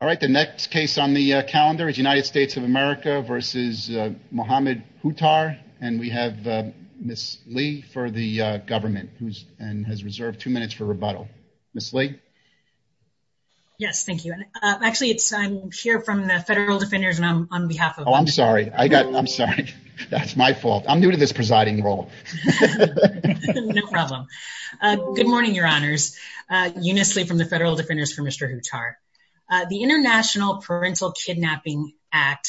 All right, the next case on the calendar is United States of America v. Mohamed Houtar, and we have Ms. Lee for the government, who has reserved two minutes for rebuttal. Ms. Lee? Yes, thank you. Actually, it's, I'm here from the Federal Defenders, and I'm on behalf of them. Oh, I'm sorry. I got, I'm sorry. That's my fault. I'm new to this presiding role. No problem. Good morning, Your Honors. Eunice Lee from the Federal Defenders for Mr. Houtar. The International Parental Kidnapping Act,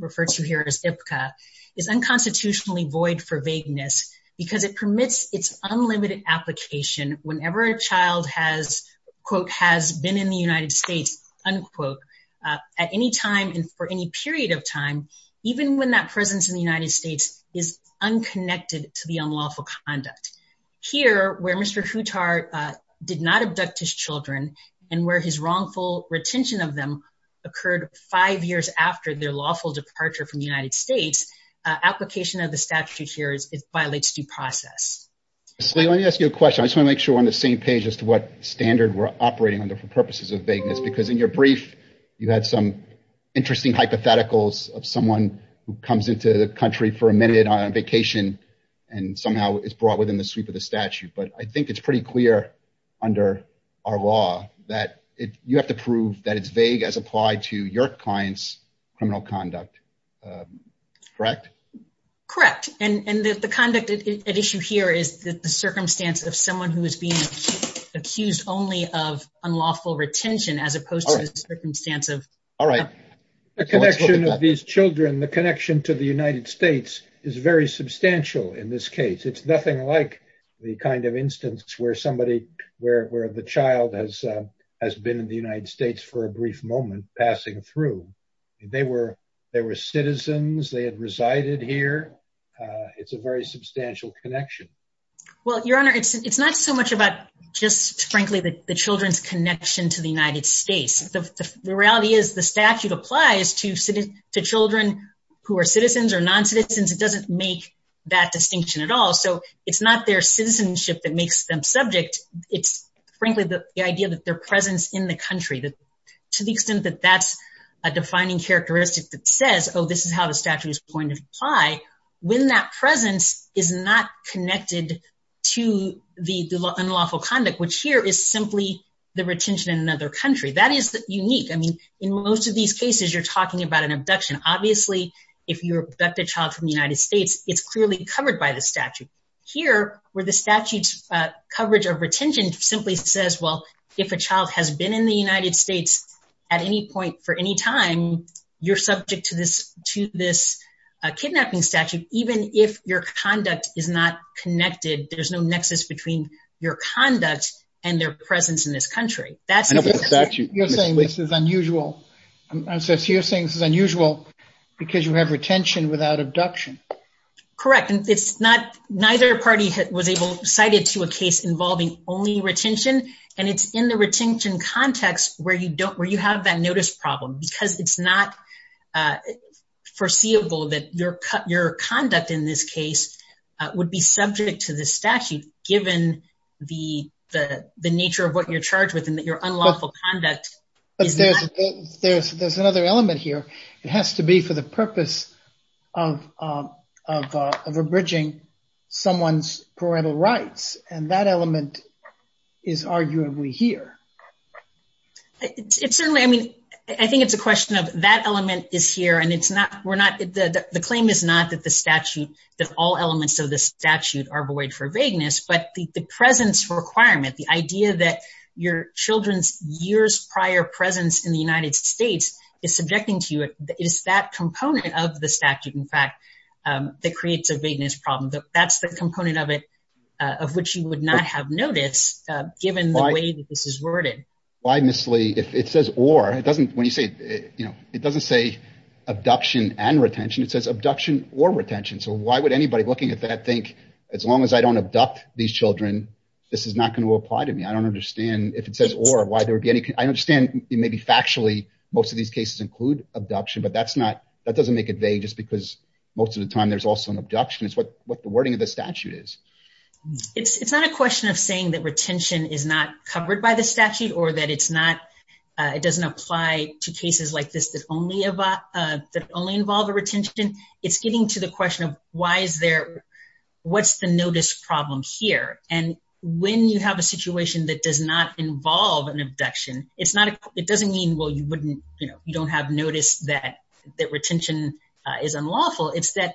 referred to here as IPCA, is unconstitutionally void for vagueness because it permits its unlimited application whenever a child has, quote, has been in the United States, unquote, at any time and for any period of time, even when that presence in the United States is unconnected to the unlawful conduct. Here, where Mr. Houtar did not abduct his children and where his wrongful retention of them occurred five years after their lawful departure from the United States, application of the statute here violates due process. Ms. Lee, let me ask you a question. I just want to make sure we're on the same page as to what standard we're operating under for purposes of vagueness, because in your brief, you had some interesting hypotheticals of someone who comes into the country for a minute on vacation and somehow is brought within the sweep of the statute. But I think it's pretty clear under our law that you have to prove that it's vague as applied to your client's criminal conduct. Correct? Correct. And the conduct at issue here is that the circumstance of someone who is being accused only of unlawful retention as opposed to the circumstance of- All right. The connection of these children, the connection to the United States is very substantial in this case. It's nothing like the kind of instance where somebody, where the child has been in the United States for a brief moment passing through. They were citizens, they had resided here. It's a very substantial connection. Well, Your Honor, it's not so much about just frankly the children's connection to the United States. The reality is the statute applies to children who are citizens or non-citizens. It doesn't make that distinction at all. So it's not their citizenship that makes them subject. It's frankly the idea that their presence in the country, to the extent that that's a defining characteristic that says, oh, this is how the statute is going to apply. When that presence is not connected to the unlawful conduct, which here is simply the retention in another country. That is unique. I mean, in most of these cases, you're talking about an abduction. Obviously, if you abduct a child from the United States, it's clearly covered by the statute. Here, where the statute's coverage of retention simply says, well, if a child has been in the United States at any point for any time, you're subject to this kidnapping statute. Even if your conduct is not connected, there's no nexus between your conduct and their presence in this country. I know, but the statute- You're saying this is unusual because you have retention without abduction. Correct. And it's not, neither party was able to cite it to a case involving only retention. And it's in the retention context where you have that notice problem, because it's not foreseeable that your conduct in this case would be subject to this statute, given the fact that your unlawful conduct is not- There's another element here. It has to be for the purpose of abridging someone's parental rights. And that element is arguably here. It's certainly, I mean, I think it's a question of that element is here. And it's not, we're not, the claim is not that the statute, that all elements of the statute are void for vagueness. But the presence requirement, the idea that your children's years prior presence in the United States is subjecting to it, is that component of the statute, in fact, that creates a vagueness problem. That's the component of it of which you would not have noticed, given the way that this is worded. Why, Ms. Lee, if it says or, it doesn't, when you say, you know, it doesn't say abduction and retention. It says abduction or retention. So why would anybody looking at that think, as long as I don't abduct these children, this is not going to apply to me. I don't understand if it says or, why there would be any, I understand it may be factually most of these cases include abduction, but that's not, that doesn't make it vague just because most of the time there's also an abduction is what the wording of the statute is. It's not a question of saying that retention is not covered by the statute or that it's not, it doesn't apply to cases like this that only involve a retention. It's getting to the question of why is there, what's the notice problem here? And when you have a situation that does not involve an abduction, it's not, it doesn't mean, well, you wouldn't, you know, you don't have noticed that, that retention is unlawful. It's that,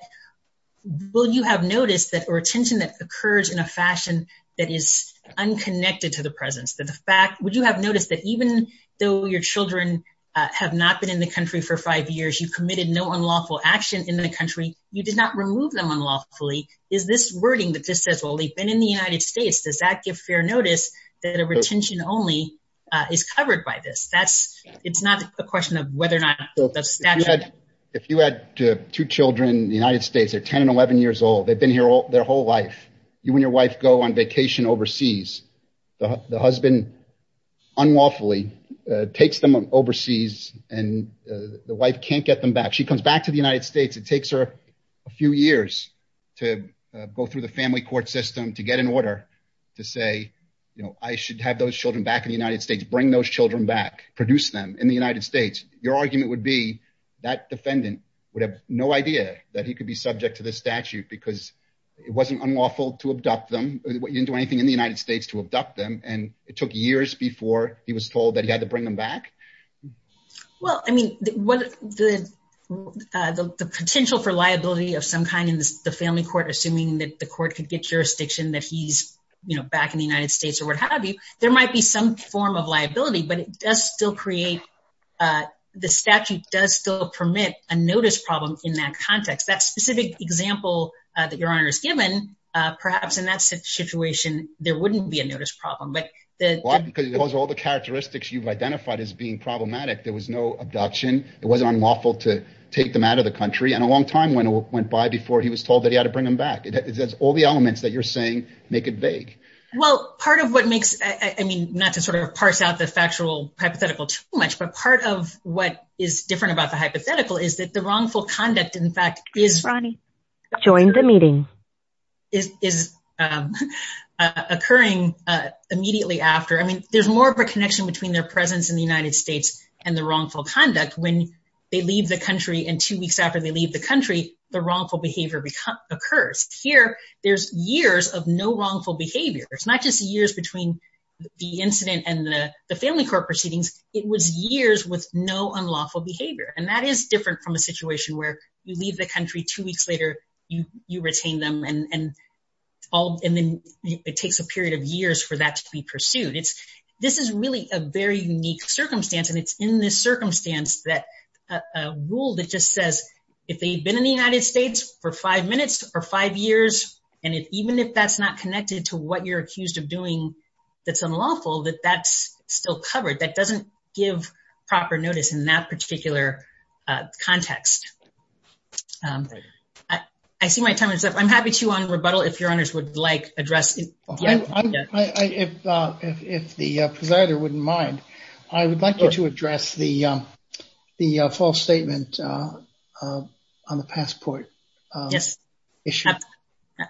will you have noticed that retention that occurs in a fashion that is unconnected to the presence, that the fact, would you have noticed that even though your children have not been in the country for five years, you committed no unlawful action in the country, you did not remove them unlawfully. Is this wording that just says, well, they've been in the United States. Does that give fair notice that a retention only is covered by this? That's, it's not a question of whether or not the statute- If you had two children in the United States, they're 10 and 11 years old. They've been here all their whole life. You and your wife go on vacation overseas. The husband unlawfully takes them overseas and the wife can't get them back. She comes back to the United States. It takes her a few years to go through the family court system to get an order to say, you know, I should have those children back in the United States, bring those children back, produce them in the United States. Your argument would be that defendant would have no idea that he could be subject to this statute because it wasn't unlawful to abduct them. You didn't do anything in the United States to abduct them. And it took years before he was told that he had to bring them back. Well, I mean, the potential for liability of some kind in the family court, assuming that the court could get jurisdiction that he's, you know, back in the United States or what have you, there might be some form of liability, but it does still create, the statute does still permit a notice problem in that context. That specific example that your honor has given, perhaps in that situation, there wouldn't be a notice problem. Why? Because of all the characteristics you've identified as being problematic. There was no abduction. It wasn't unlawful to take them out of the country. And a long time went by before he was told that he had to bring them back. It has all the elements that you're saying make it vague. Well, part of what makes, I mean, not to sort of parse out the factual hypothetical too much, but part of what is different about the hypothetical is that the wrongful conduct, in fact, is occurring immediately after. I mean, there's more of a connection between their presence in the United States and the wrongful conduct when they leave the country. And two weeks after they leave the country, the wrongful behavior occurs. Here, there's years of no wrongful behavior. It's not just years between the incident and the family court proceedings. It was years with no unlawful behavior. And that is different from a situation where you leave the country, two weeks later, you retain them, and then it takes a period of years for that to be pursued. This is really a very unique circumstance. And it's in this circumstance that a rule that just says, if they've been in the United States for five minutes or five years, and even if that's not connected to what you're accused of doing that's unlawful, that that's still covered. That doesn't give proper notice in that particular context. I see my time is up. I'm happy to un-rebuttal if your honors would like to address it. If the presider wouldn't mind, I would like you to address the false statement on the passport issue.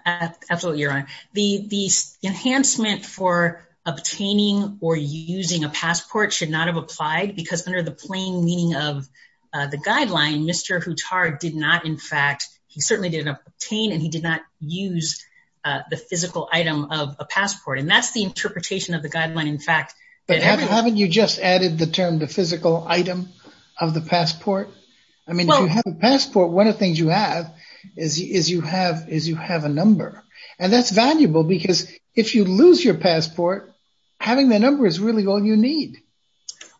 Absolutely, your honor. The enhancement for obtaining or using a passport should not have applied because under the plain meaning of the guideline, Mr. Huttar did not, in fact, he certainly didn't obtain and he did not use the physical item of a passport. And that's the interpretation of the guideline, in fact. But haven't you just added the term the physical item of the passport? I mean, if you have a passport, one of the things you have is you have a number. And that's valuable because if you lose your passport, having that number is really all you need.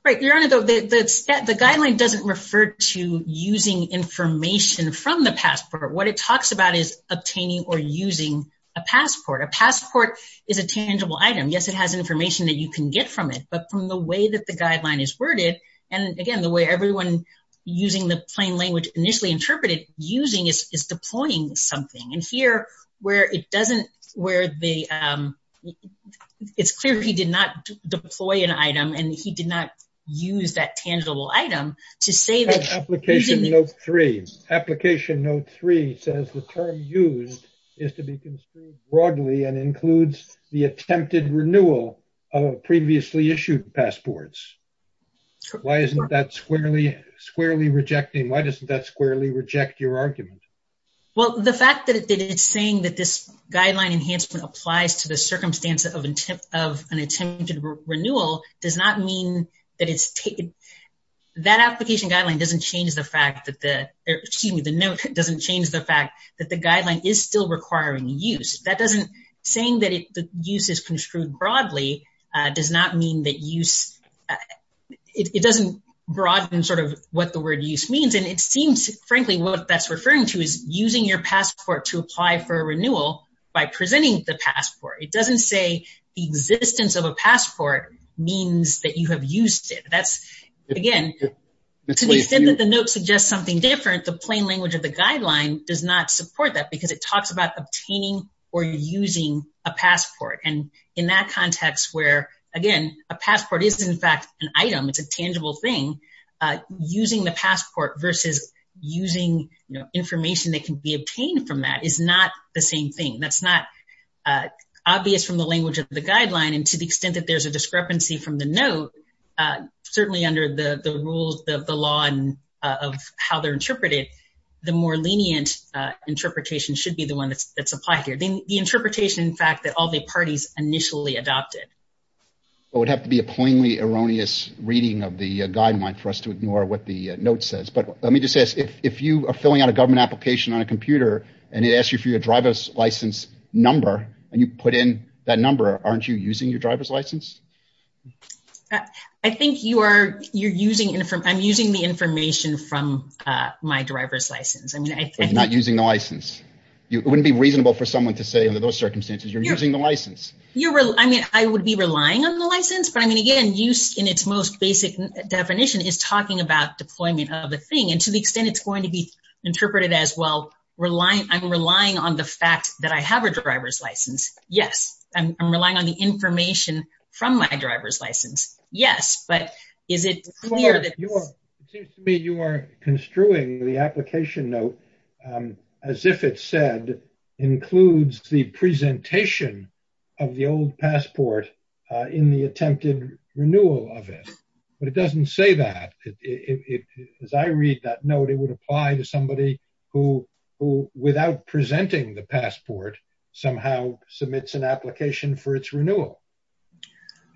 Right, your honor, though, the guideline doesn't refer to using information from the passport. What it talks about is obtaining or using a passport. A passport is a tangible item. Yes, it has information that you can get from it, but from the way that the guideline is worded, and again, the way everyone using the plain language initially interpreted using is deploying something. And here where it doesn't, where the, it's clear he did not deploy an item and he did not use that tangible item to say that. Application note three, application note three says the term used is to be construed broadly and includes the attempted renewal of previously issued passports. Why isn't that squarely, squarely rejecting? Why doesn't that squarely reject your argument? Well, the fact that it's saying that this guideline enhancement applies to the circumstance of an attempted renewal does not mean that it's taken. That application guideline doesn't change the fact that the, excuse me, the note doesn't change the fact that the guideline is still requiring use. That doesn't, saying that the use is construed broadly does not mean that use, it doesn't broaden sort of what the word use means. It seems, frankly, what that's referring to is using your passport to apply for a renewal by presenting the passport. It doesn't say the existence of a passport means that you have used it. That's, again, to the extent that the note suggests something different, the plain language of the guideline does not support that because it talks about obtaining or using a passport. And in that context where, again, a passport is in fact an item, it's a tangible thing, using the passport versus using, you know, information that can be obtained from that is not the same thing. That's not obvious from the language of the guideline. And to the extent that there's a discrepancy from the note, certainly under the rules of the law and of how they're interpreted, the more lenient interpretation should be the one that's applied here. Then the interpretation, in fact, that all the parties initially adopted. It would have to be a plainly erroneous reading of the guideline for us to ignore what the note says. But let me just ask, if you are filling out a government application on a computer and it asks you for your driver's license number and you put in that number, aren't you using your driver's license? I think you are. You're using it. I'm using the information from my driver's license. I'm not using the license. It wouldn't be reasonable for someone to say under those circumstances, you're using the license. I mean, I would be relying on the license. But I mean, again, use in its most basic definition is talking about deployment of a thing. And to the extent it's going to be interpreted as, well, I'm relying on the fact that I have a driver's license. Yes. I'm relying on the information from my driver's license. Yes. But is it clear that you are? It seems to me you are construing the application note as if it said includes the presentation of the old passport in the attempted renewal of it. But it doesn't say that. As I read that note, it would apply to somebody who, without presenting the passport, somehow submits an application for its renewal.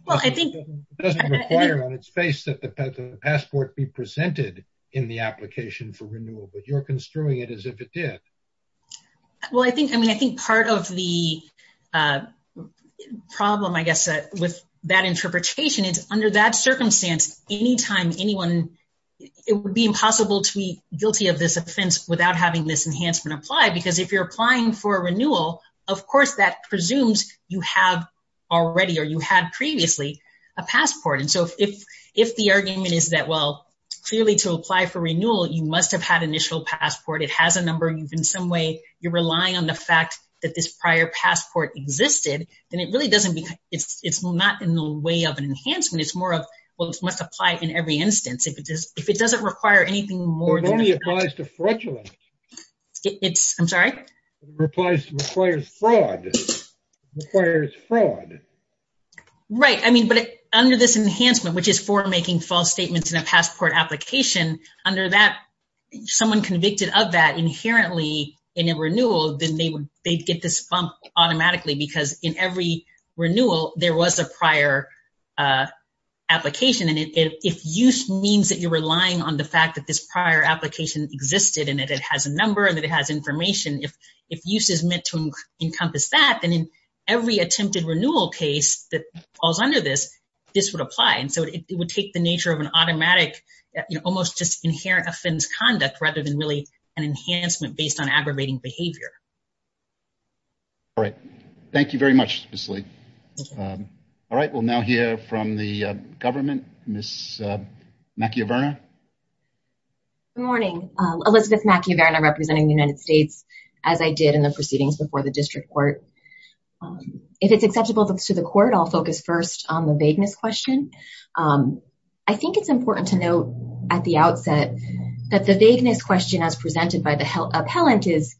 Well, I think it doesn't require on its face that the passport be presented in the application for renewal. But you're construing it as if it did. Well, I mean, I think part of the problem, I guess, with that interpretation is under that circumstance, anytime anyone, it would be impossible to be guilty of this offense without having this enhancement apply. Because if you're applying for a renewal, of course, that presumes you have already or you had previously a passport. And so if the argument is that, well, clearly to apply for renewal, you must have had initial passport. It has a number. You've, in some way, you're relying on the fact that this prior passport existed. Then it really doesn't because it's not in the way of an enhancement. It's more of, well, it must apply in every instance. If it doesn't require anything more than that. It only applies to fraudulent. It's, I'm sorry? It applies, requires fraud, requires fraud. Right. I mean, but under this enhancement, which is for making false statements in a passport application, under that, someone convicted of that inherently in a renewal, then they would, they'd get this bump automatically because in every renewal, there was a prior application. And if use means that you're relying on the fact that this prior application existed and that it has a number and that it has information, if use is meant to encompass that, then in every attempted renewal case that falls under this, this would apply. And so it would take the nature of an automatic, almost just inherent offense conduct, rather than really an enhancement based on aggravating behavior. All right. Thank you very much, Ms. Lee. All right. We'll now hear from the government, Ms. Macchiaverna. Good morning. Elizabeth Macchiaverna representing the United States as I did in the proceedings before the district court. If it's acceptable to the court, I'll focus first on the vagueness question. I think it's important to note at the outset that the vagueness question as presented by the appellant is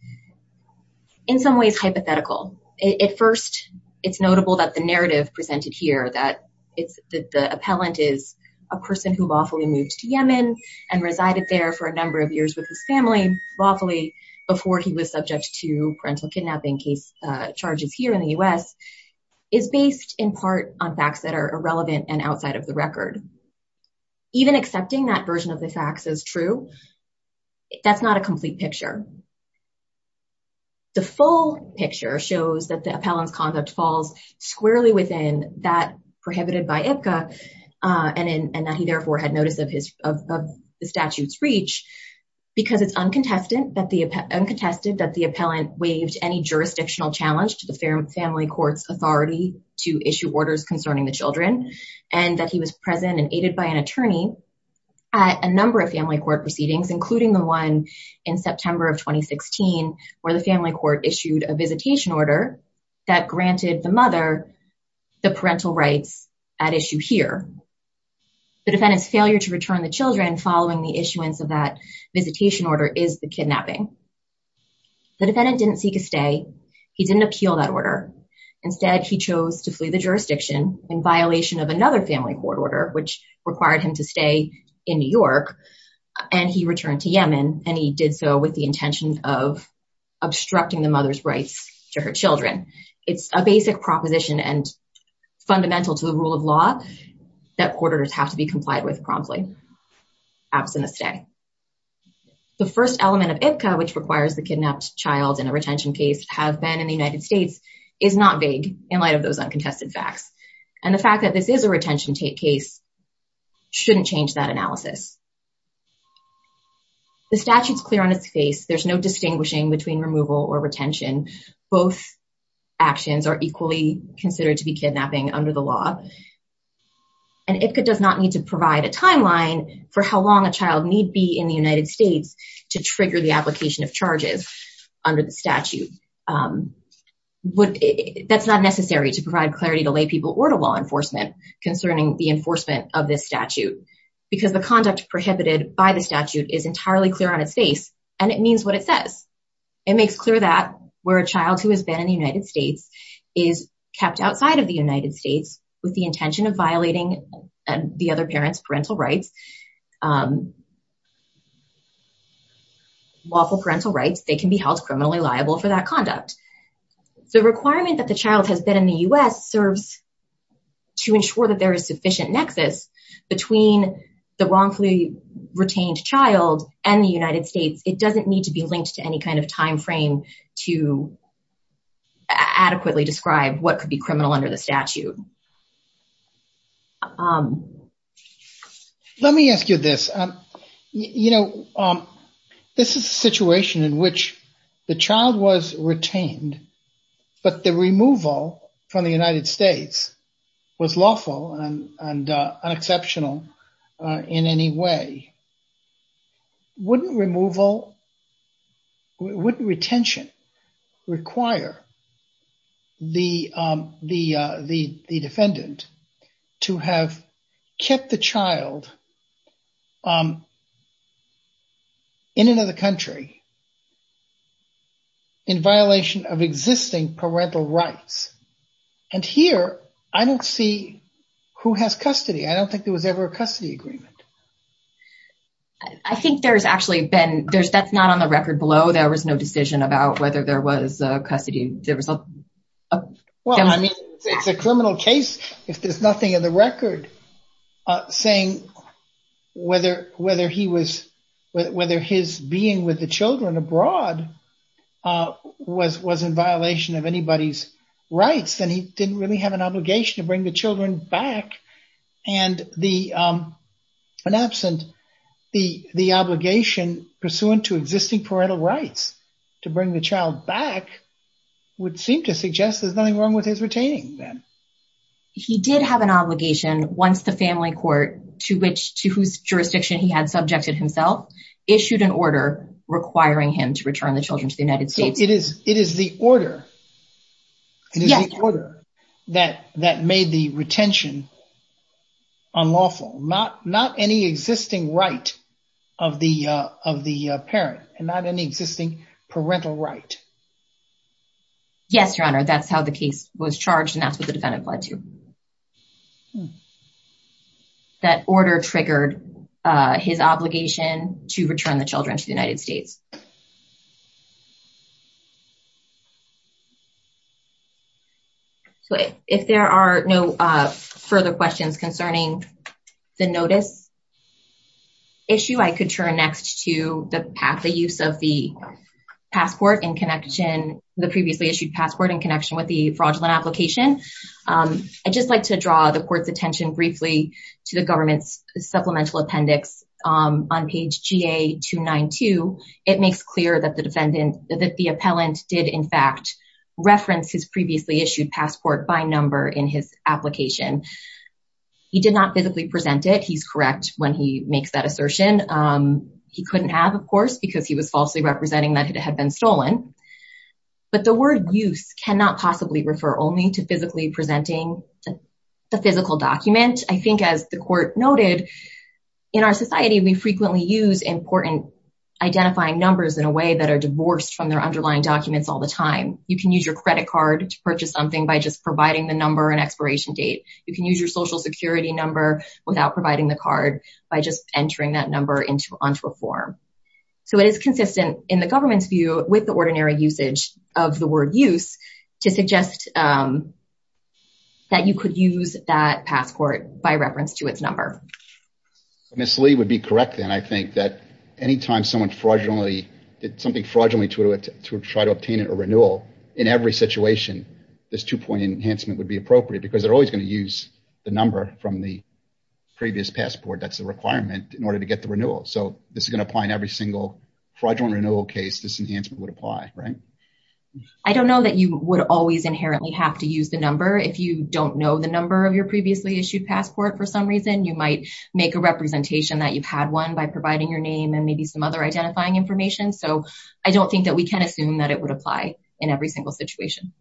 in some ways hypothetical. At first, it's notable that the narrative presented here that the appellant is a person who lawfully moved to Yemen and resided there for a number of years with his family lawfully before he was subject to parental kidnapping case charges here in the US is based in part on facts that are irrelevant and outside of the record. Even accepting that version of the facts is true, that's not a complete picture. The full picture shows that the appellant's conduct falls squarely within that prohibited by IPCA and that he therefore had notice of the statute's reach because it's uncontested that the appellant waived any jurisdictional challenge to the family court's authority to issue orders concerning the children. And that he was present and aided by an attorney at a number of family court proceedings, including the one in September of 2016, where the family court issued a visitation order that granted the mother the parental rights at issue here. The defendant's failure to return the children following the issuance of that visitation order is the kidnapping. The defendant didn't seek a stay, he didn't appeal that order. Instead, he chose to flee the jurisdiction in violation of another family court order, which required him to stay in New York. And he returned to Yemen and he did so with the intention of obstructing the mother's rights to her children. It's a basic proposition and fundamental to the rule of law that court orders have to be complied with promptly, absent a stay. The first element of IPCA, which requires the kidnapped child in a retention case have been in the United States, is not vague in light of those uncontested facts. And the fact that this is a retention case shouldn't change that analysis. The statute's clear on its face, there's no distinguishing between removal or retention. Both actions are equally considered to be kidnapping under the law. And IPCA does not need to provide a timeline for how long a child need be in the United States to trigger the application of charges under the statute. That's not necessary to provide clarity to lay people or to law enforcement concerning the enforcement of this statute, because the conduct prohibited by the statute is entirely clear on its face, and it means what it says. It makes clear that where a child who has been in the United States is kept outside of the United States with the intention of violating the other parent's parental rights, lawful parental rights, they can be held criminally liable for that conduct. The requirement that the child has been in the US serves to ensure that there is sufficient nexus between the wrongfully retained child and the United States. It doesn't need to be linked to any kind of timeframe to adequately describe what could be criminal under the statute. Let me ask you this. You know, this is a situation in which the child was retained, but the removal from the United States was lawful and unexceptional in any way. Wouldn't removal, wouldn't retention require the defendant to have kept the child in another country in violation of existing parental rights? And here, I don't see who has custody. I don't think there was ever a custody agreement. I think there's actually been, that's not on the record below. There was no decision about whether there was a custody. There was a criminal case, if there's nothing in the record, saying whether his being with the children abroad was in violation of anybody's rights, then he didn't really have an obligation to bring the children back. And the, in absent, the obligation pursuant to existing parental rights to bring the child back would seem to suggest there's nothing wrong with his retaining then. He did have an obligation once the family court to which, to whose jurisdiction he had subjected himself, issued an order requiring him to return the children to the United States. So it is the order that made the retention unlawful, not any existing right of the parent and not any existing parental right. Yes, Your Honor. That's how the case was charged and that's what the defendant applied to. That order triggered his obligation to return the children to the United States. So if there are no further questions concerning the notice issue, I could turn next to the path, the use of the passport in connection, the previously issued passport in connection with the fraudulent application. I'd just like to draw the court's attention briefly to the government's supplemental appendix on page GA-292. It makes clear that the defendant, that the appellant did in fact reference his previously issued passport by number in his application. He did not physically present it. He's correct when he makes that assertion. He couldn't have, of course, because he was falsely representing that it had been stolen. But the word use cannot possibly refer only to physically presenting the physical document. I think as the court noted, in our society, we frequently use important identifying numbers in a way that are divorced from their underlying documents all the time. You can use your credit card to purchase something by just providing the number and expiration date. You can use your social security number without providing the card by just entering that number onto a form. So it is consistent in the government's view with the ordinary usage of the word use to suggest that you could use that passport by reference to its number. Ms. Lee would be correct then. I think that anytime someone fraudulently did something fraudulently to try to obtain a renewal in every situation, this two-point enhancement would be appropriate because they're always going to use the number from the previous passport that's the requirement in order to get the renewal. So this is going to apply in every single fraudulent renewal case this enhancement would apply, right? I don't know that you would always inherently have to use the number. If you don't know the number of your previously issued passport for some reason, you might make a representation that you've had one by providing your name and maybe some other identifying information. So I don't think that we can assume that it would apply in every single situation.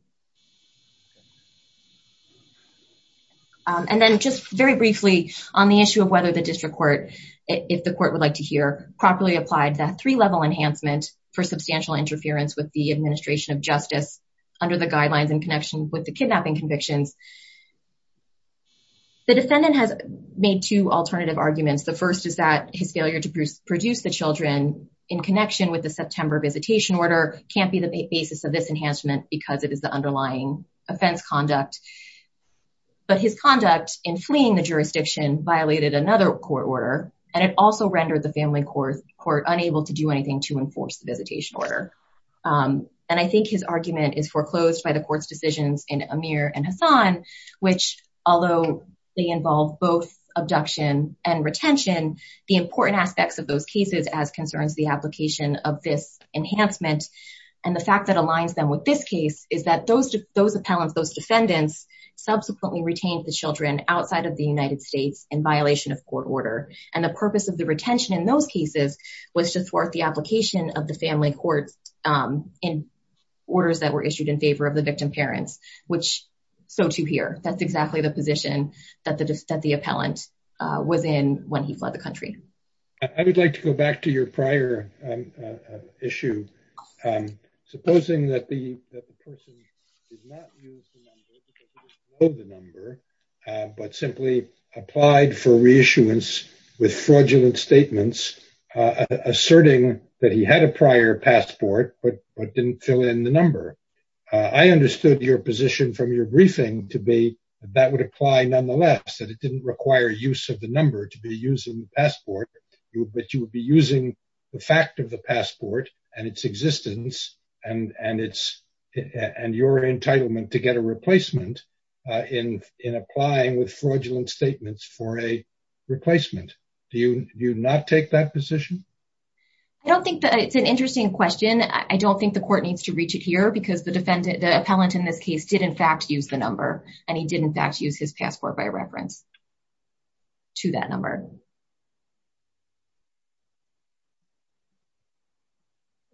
And then just very briefly on the issue of whether the district court, if the court would like to hear, properly applied that three-level enhancement for substantial interference with the administration of justice under the guidelines in connection with the kidnapping convictions. The defendant has made two alternative arguments. The first is that his failure to produce the children in connection with the September visitation order can't be the basis of this enhancement because it is the underlying offense conduct. But his conduct in fleeing the jurisdiction violated another court order and it also rendered the family court unable to do anything to enforce the visitation order. And I think his argument is foreclosed by the court's decisions in Amir and Hassan which although they involve both abduction and retention, the important aspects of those cases as concerns the application of this enhancement and the fact that aligns them with this case is that those appellants, those defendants, subsequently retained the children outside of the United States in violation of court order. And the purpose of the retention in those cases was to thwart the application of the family court in orders that were issued in favor of the victim parents, which so to hear. That's exactly the position that the appellant was in when he fled the country. I would like to go back to your prior issue. Supposing that the person did not use the number because they didn't know the number but simply applied for reissuance with fraudulent statements asserting that he had a prior passport but didn't fill in the number. I understood your position from your briefing to be that would apply nonetheless, that it didn't require use of the number to be using the passport, but you would be using the fact of the passport and its existence and your entitlement to get a replacement in applying with fraudulent statements for a replacement. Do you not take that position? I don't think that it's an interesting question. I don't think the court needs to reach it here because the defendant, the appellant in this case did in fact use the number and he did in fact use his passport by reference to that number.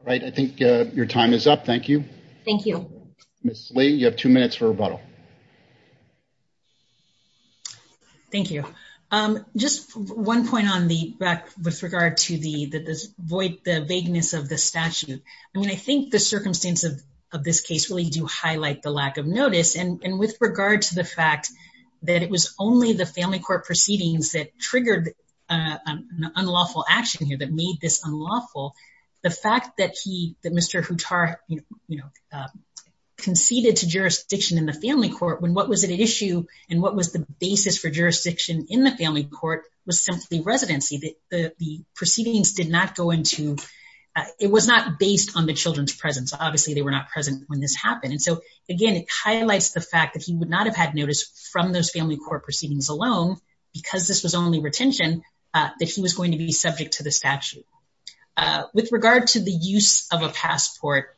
All right. I think your time is up. Thank you. Thank you. Ms. Lee, you have two minutes for rebuttal. Thank you. Just one point on the back with regard to the vagueness of the statute. I mean, I think the circumstance of this case really do highlight the lack of notice. And with regard to the fact that it was only the family court proceedings that triggered an unlawful action here that made this unlawful, the fact that he, that Mr. Huttar conceded to jurisdiction in the family court when what was at issue and what was the basis for jurisdiction in the family court was simply residency. The proceedings did not go into, it was not based on the children's presence. Obviously they were not present when this happened. And so again, it highlights the fact that he would not have had notice from those family court proceedings alone because this was only retention that he was going to be subject to the statute. With regard to the use of a passport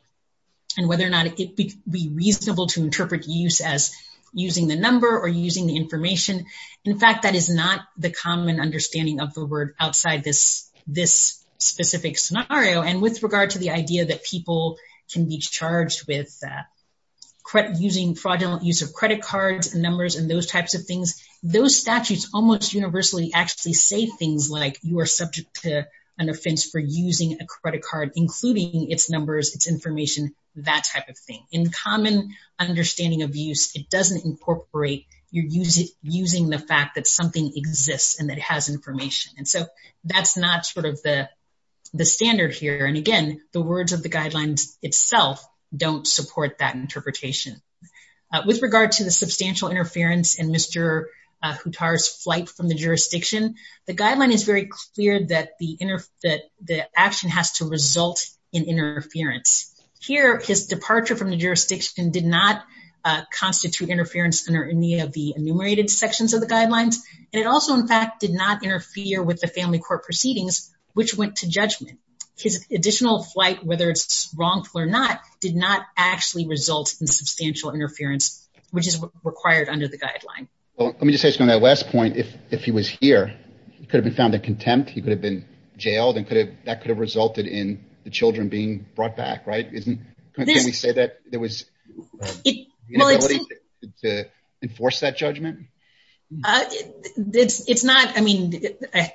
and whether or not it be reasonable to interpret use as using the number or using the information. In fact, that is not the common understanding of the word outside this specific scenario. And with regard to the idea that people can be charged with using fraudulent use of credit cards and numbers and those types of things, those statutes almost universally actually say things like you are subject to an offense for using a credit card, including its numbers, its information, that type of thing. In common understanding of use, it doesn't incorporate, you're using the fact that something exists and that it has information. And so that's not sort of the standard here. And again, the words of the guidelines itself don't support that interpretation. With regard to the substantial interference in Mr. Huttar's flight from the jurisdiction, the guideline is very clear that the action has to result in interference. Here, his departure from the jurisdiction did not constitute interference under any of the enumerated sections of the guidelines. And it also, in fact, did not interfere with the family court proceedings, which went to judgment. His additional flight, whether it's wrongful or not, did not actually result in substantial interference, which is required under the guideline. Well, let me just say something on that last point. If he was here, he could have been found in contempt. He could have been jailed and that could have resulted in the children being brought back, right? Can we say that there was the inability to enforce that judgment? It's not, I mean,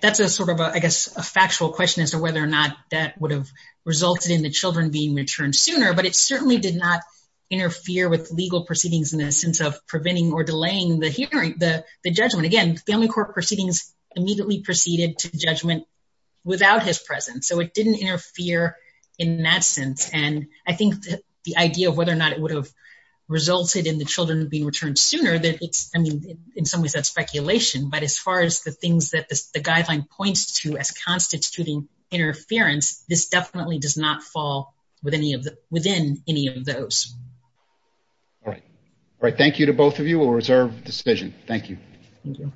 that's a sort of, I guess, a factual question as to whether or not that would have resulted in the children being returned sooner, but it certainly did not interfere with legal proceedings in the sense of preventing or delaying the hearing, the judgment. Again, family court proceedings immediately proceeded to judgment without his presence. So it didn't interfere in that sense. And I think the idea of whether or not it would have resulted in the children being returned sooner, that it's, I mean, in some ways that's speculation. But as far as the things that the guideline points to as constituting interference, this definitely does not fall with any of the, within any of those. All right. All right. Thank you to both of you. We'll reserve the decision. Thank you. Thank you.